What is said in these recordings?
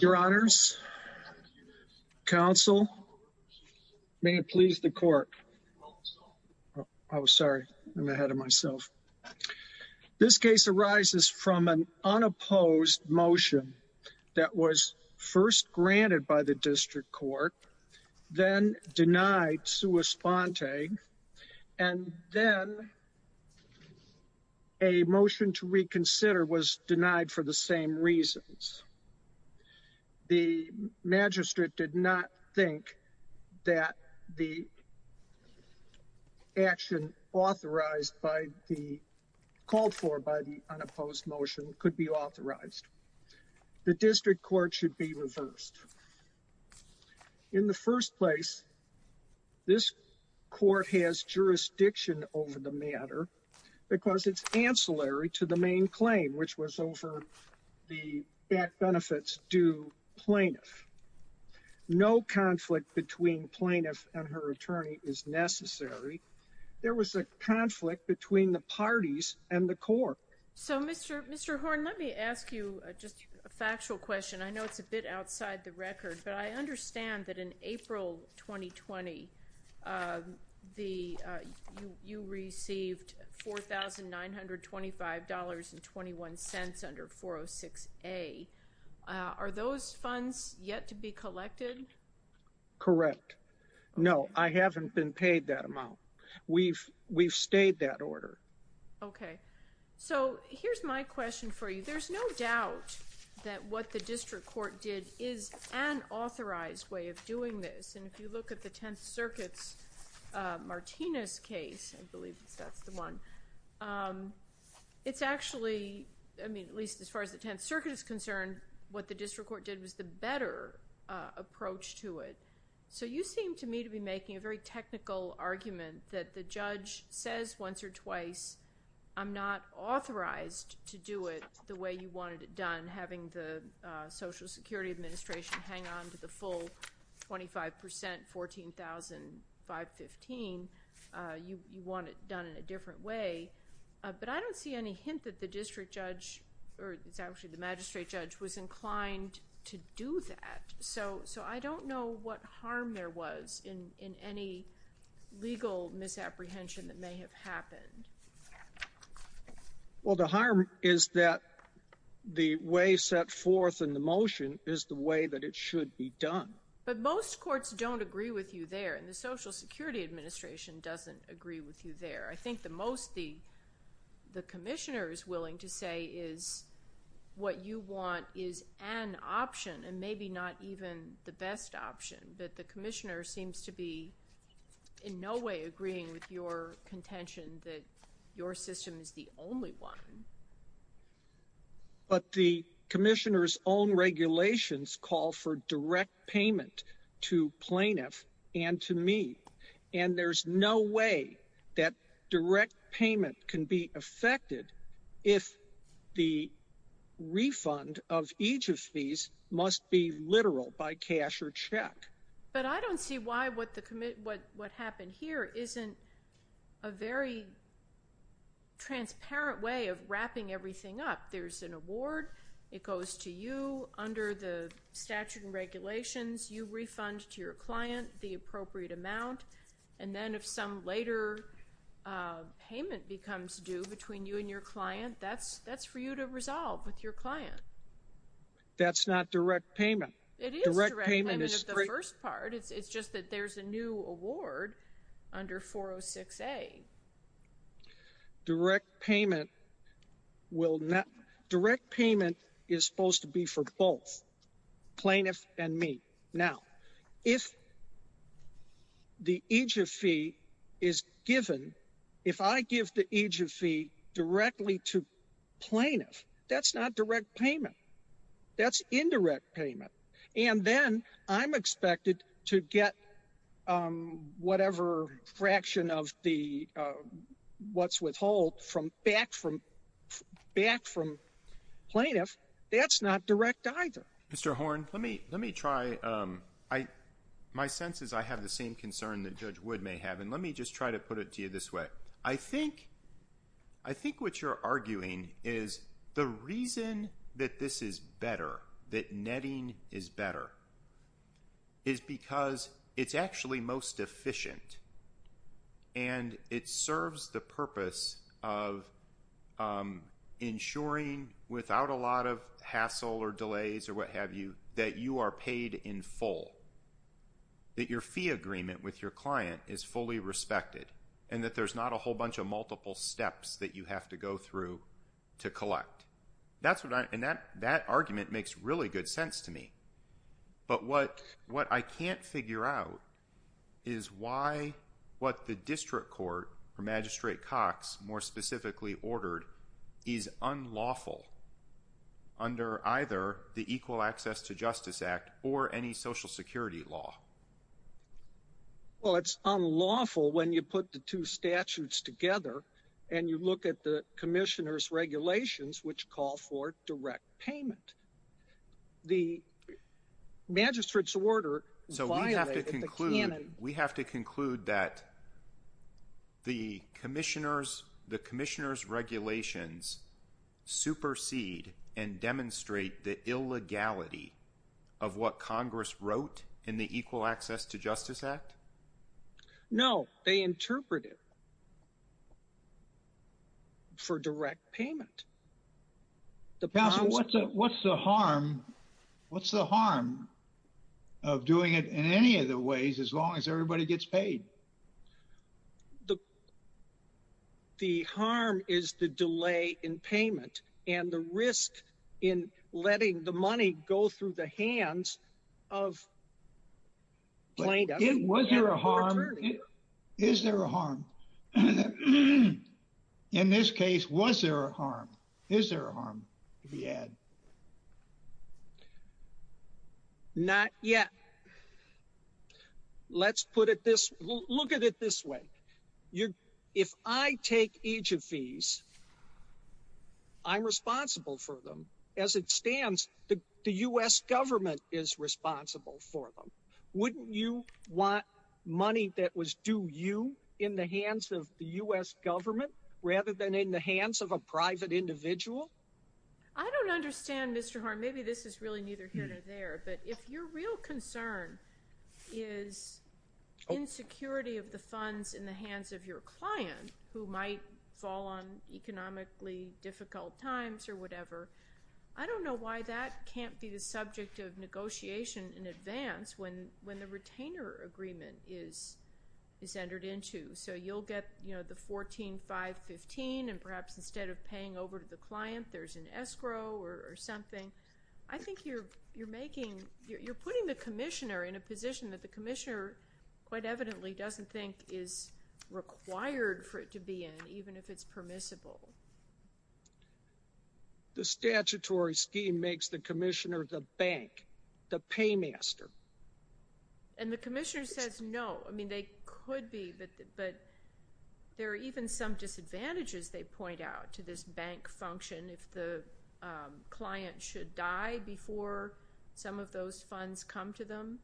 Your honors, counsel, may it please the court, I'm sorry, I'm ahead of myself, this case arises from an unopposed motion that was first granted by the district court, then denied not sua sponte, and then a motion to reconsider was denied for the same reasons. The magistrate did not think that the action authorized by the, called for by the unopposed motion could be authorized. The district court should be reversed. In the first place, this court has jurisdiction over the matter, because it's ancillary to the main claim, which was over the benefits due plaintiff. No conflict between plaintiff and her attorney is necessary. There was a you just a factual question. I know it's a bit outside the record, but I understand that in April 2020, the, you received $4,925.21 under 406A. Are those funds yet to be collected? Correct. No, I haven't been paid that amount. We've, we've stayed that order. Okay. So here's my question for you. There's no doubt that what the district court did is an authorized way of doing this. And if you look at the Tenth Circuit's Martinez case, I believe that's the one, it's actually, I mean, at least as far as the Tenth Circuit is concerned, what the district court did was the better approach to it. So you seem to me to be making a very to do it the way you wanted it done, having the Social Security Administration hang on to the full 25%, $14,515. You want it done in a different way. But I don't see any hint that the district judge, or it's actually the magistrate judge, was inclined to do that. So I don't know what harm there was in any legal misapprehension that may have happened. Well, the harm is that the way set forth in the motion is the way that it should be done. But most courts don't agree with you there, and the Social Security Administration doesn't agree with you there. I think the most the, the commissioner is willing to say is what you want is an option, and maybe not even the best option. But the commissioner seems to be in no way agreeing with your contention that your system is the only one. But the commissioner's own regulations call for direct payment to plaintiff and to me, and there's no way that direct payment can be affected if the refund of each of these must be literal by cash or check. But I don't see why what the, what happened here isn't a very transparent way of wrapping everything up. There's an award. It goes to you under the statute and regulations. You refund to your client the appropriate amount, and then if some later payment becomes due between you and your client, that's, that's for you to resolve with your client. That's not direct payment. It is direct payment of the first part. It's just that there's a new award under 406A. Direct payment will not, direct payment is supposed to be for both plaintiff and me. Now, if the EJF fee is given, if I give the EJF fee directly to plaintiff, that's not direct payment. That's indirect payment. And then I'm expected to get whatever fraction of the what's withhold from back from, back from plaintiff. That's not direct either. Mr. Horne, let me, let me try. My sense is I have the same concern that Judge Wood may have. And let me just try to put it to you this way. I think, I think what you're arguing is the reason that this is better, that netting is better, is because it's actually most efficient. And it serves the purpose of ensuring without a lot of hassle or delays or what have you, that you are paid in full. That your fee agreement with your client is fully respected. And that there's not a whole bunch of multiple steps that you have to go through to collect. That's what I, and that, that argument makes really good sense to me. But what, what I can't figure out is why, what the district court or Magistrate Cox more specifically ordered is unlawful under either the Equal Access to Justice Act or any social security law. Well, it's unlawful when you put the two statutes together and you look at the Commissioner's regulations, which call for direct payment. The Magistrate's order violated the canon. So we have to conclude, we have to conclude that the Commissioner's, the Commissioner's regulations supersede and demonstrate the illegality of what Congress wrote in the Equal Access to Justice Act? No, they interpret it for direct payment. The problem is- What's the harm, what's the harm of doing it in any of the ways as long as everybody gets paid? The, the harm is the delay in payment and the risk in letting the money go through the hands of plaintiff and the attorney. Was there a harm? Is there a harm? In this case, was there a harm? Is there a harm, if you had? Not yet. Let's put it this, look at it this way. You're, if I take each of these, I'm responsible for them. As it stands, the U.S. government is responsible for them. Wouldn't you want money that was due you in the hands of the U.S. government rather than in the hands of a private individual? I don't understand, Mr. Horn. Maybe this is really neither here nor there, but if your real concern is insecurity of the funds in the hands of your client, who might fall on economically difficult times or whatever, I don't know why that can't be the subject of negotiation in advance when, when the retainer agreement is, is entered into. So you'll get, you know, the 14, 5, 15, and perhaps instead of paying over to the client, there's an escrow or something. I think you're, you're making, you're putting the commissioner in a position that the commissioner quite evidently doesn't think is required for it to be in, even if it's permissible. The statutory scheme makes the commissioner the bank, the paymaster. And the commissioner says no. I mean, they could be, but, but there are even some disadvantages they point out to this bank function. If the client should die before some of those funds come to them,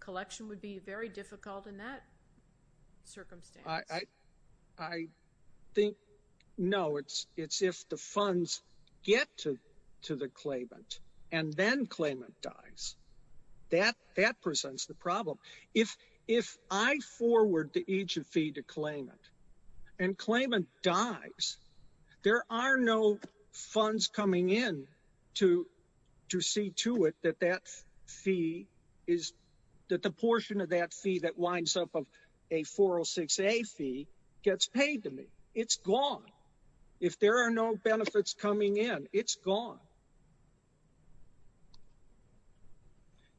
collection would be very difficult in that circumstance. I think, no, it's, it's if the funds get to, to the claimant and then claimant dies, that, that presents the problem. If, if I forward the agent fee to claimant and claimant dies, there are no funds coming in to, to see to it that that fee is that the portion of that fee that winds up of a 406A fee gets paid to me. It's gone. If there are no benefits coming in, it's gone.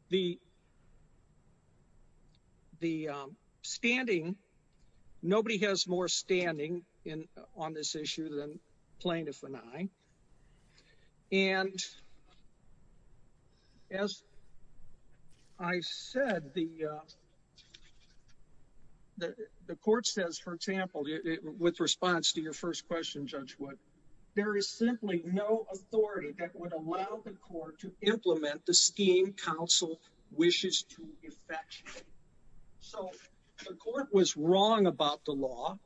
The, the standing, nobody has more standing in, on this issue than plaintiff and I. And as I said, the, the, the court says, for example, with response to your first question, Judge Wood, there is simply no authority that would allow the court to implement the scheme counsel wishes to effectuate. So the court was wrong about the law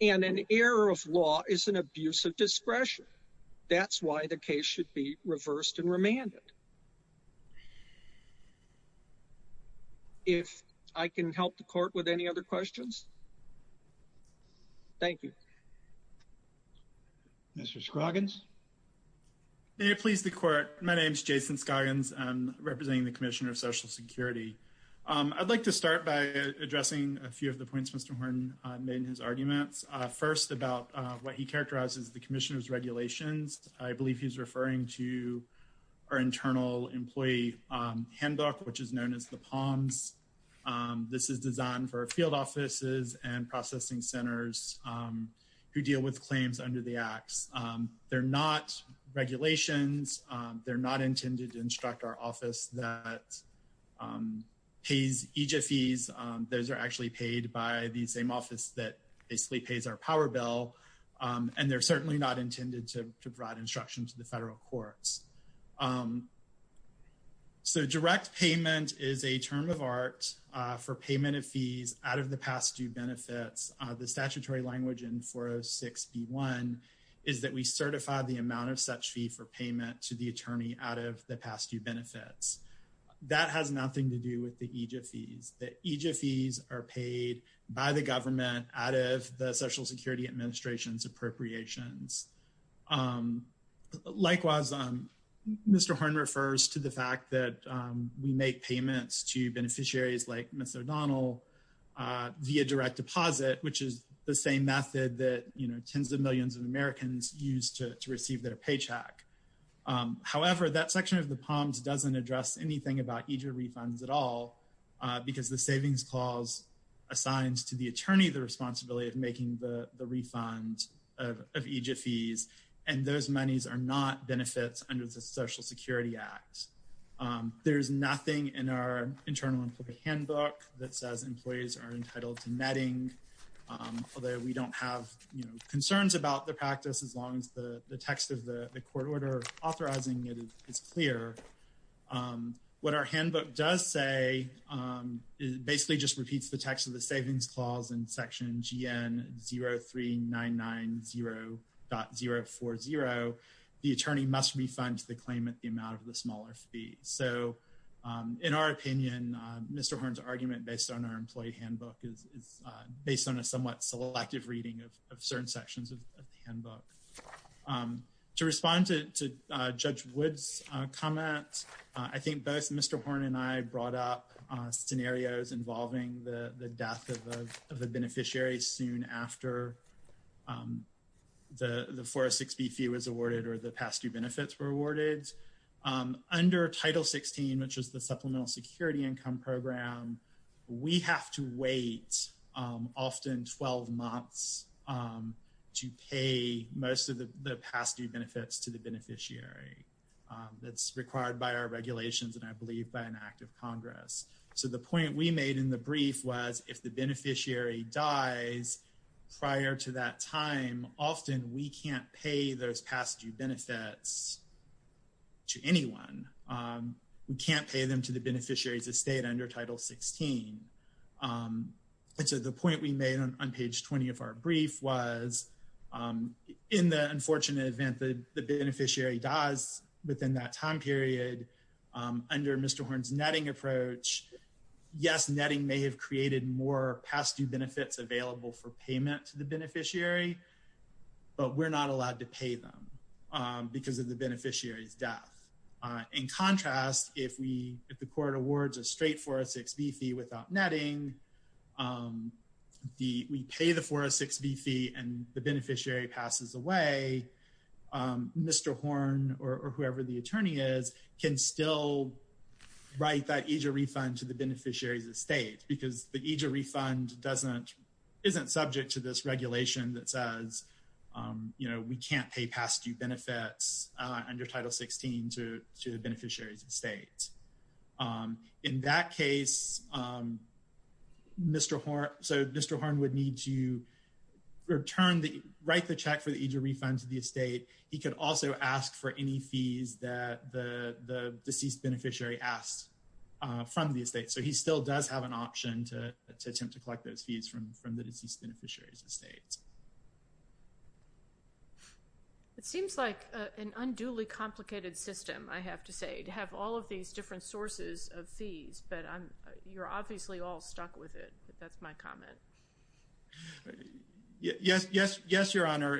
and an error of law is an abuse of discretion. That's why the case should be reversed and remanded. If I can help the court with any other questions. Thank you. Mr. Scoggins. May it please the court. My name's Jason Scoggins. I'm representing the commissioner of social security. I'd like to start by addressing a few of the points Mr. Horne made in his arguments. First, about what he characterizes the commissioner's regulations. I believe he's referring to our internal employee handbook, which is known as the palms. This is designed for field offices and processing centers who deal with claims under the acts. They're not regulations. They're not intended to instruct our office that pays EJ fees. Those are actually paid by the same office that basically pays our power bill and they're certainly not intended to provide instruction to the federal courts. So direct payment is a term of art for payment of fees out of the past due benefits. The statutory language in 406b1 is that we certify the amount of such fee for payment to the attorney out of the past due benefits. That has nothing to do with the EJ fees. The EJ fees are paid by the government out of the social security administration's appropriations. Likewise, Mr. Horne refers to the fact that we make payments to beneficiaries like Ms. O'Donnell via direct deposit, which is the same method that tens of millions of Americans use to receive their paycheck. However, that section of the palms doesn't address anything about EJ refunds at all because the savings clause assigns to the attorney the responsibility of making the refund of EJ fees and those monies are not benefits under the social security act. There's nothing in our internal employee handbook that says employees are entitled to netting, although we don't have, you know, concerns about the practice as long as the text of the court order authorizing it is clear. What our handbook does say is basically just repeats the text of the savings clause in section GN03990.040. The attorney must refund the claim at the amount of the smaller fee. So in our opinion, Mr. Horne's argument based on our employee handbook is based on a somewhat selective reading of certain sections of the handbook. To respond to Judge Wood's comment, I think both Mr. Horne and I brought up scenarios involving the death of a beneficiary soon after the 406B fee was awarded or the past due benefits were awarded. Under Title 16, which is the Supplemental Security Income Program, we have to wait often 12 months to pay most of the past due benefits to the beneficiary. That's required by our regulations and I believe by an act of Congress. So the point we made in the brief was if the beneficiary dies prior to that time, often we can't pay those past due benefits to anyone. We can't pay them to the beneficiary's estate under Title 16. And so the point we made on page 20 of our brief was in the unfortunate event the beneficiary dies within that time period, under Mr. Horne's netting approach, yes, netting may have created more past due benefits available for payment to the beneficiary, but we're not allowed to pay them. Because of the beneficiary's death. In contrast, if the court awards a straight 406B fee without netting, we pay the 406B fee and the beneficiary passes away, Mr. Horne or whoever the attorney is can still write that EJRA refund to the beneficiary's estate because the EJRA refund isn't subject to this regulation that says we can't pay past due benefits under Title 16 to the beneficiary's estate. In that case, Mr. Horne would need to write the check for the EJRA refund to the estate. He could also ask for any fees that the deceased beneficiary asks from the estate. So he still does have an option to attempt to collect those fees from the deceased beneficiary's estate. It seems like an unduly complicated system, I have to say, to have all of these different sources of fees, but you're obviously all stuck with it. That's my comment. Yes, Your Honor.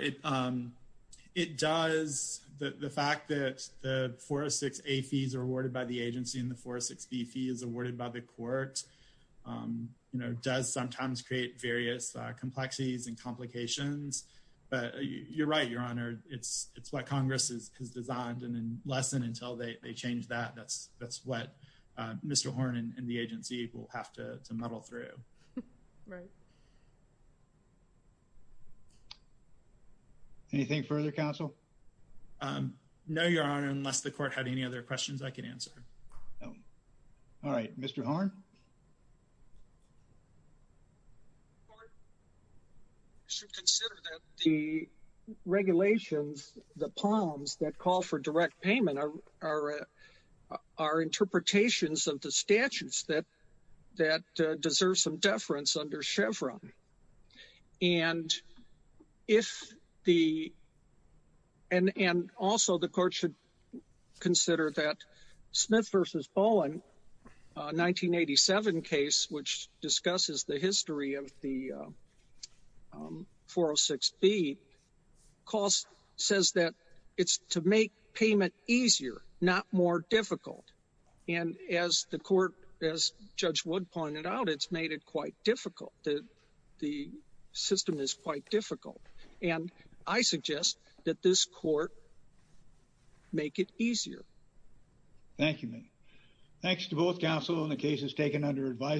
It does, the fact that the 406A fees are awarded by the agency and the 406B fee is awarded by the court, you know, does sometimes create various complexities and complications, but you're right, Your Honor. It's what Congress has designed and lessened until they change that. That's what Mr. Horne and the agency will have to muddle through. Right. Anything further, Counsel? No, Your Honor, unless the court had any other questions I could answer. No. All right, Mr. Horne? The court should consider that the regulations, the POMs that call for direct payment are are interpretations of the statutes that deserve some deference under Chevron. And also the court should consider that Smith v. Bowen, 1987 case, which discusses the history of the 406B, says that it's to make payment easier, not more difficult. And as the court, as Judge Wood pointed out, it's made it quite difficult. The system is quite difficult. And I suggest that this court make it easier. Thank you. Thanks to both counsel in the cases taken under advisory.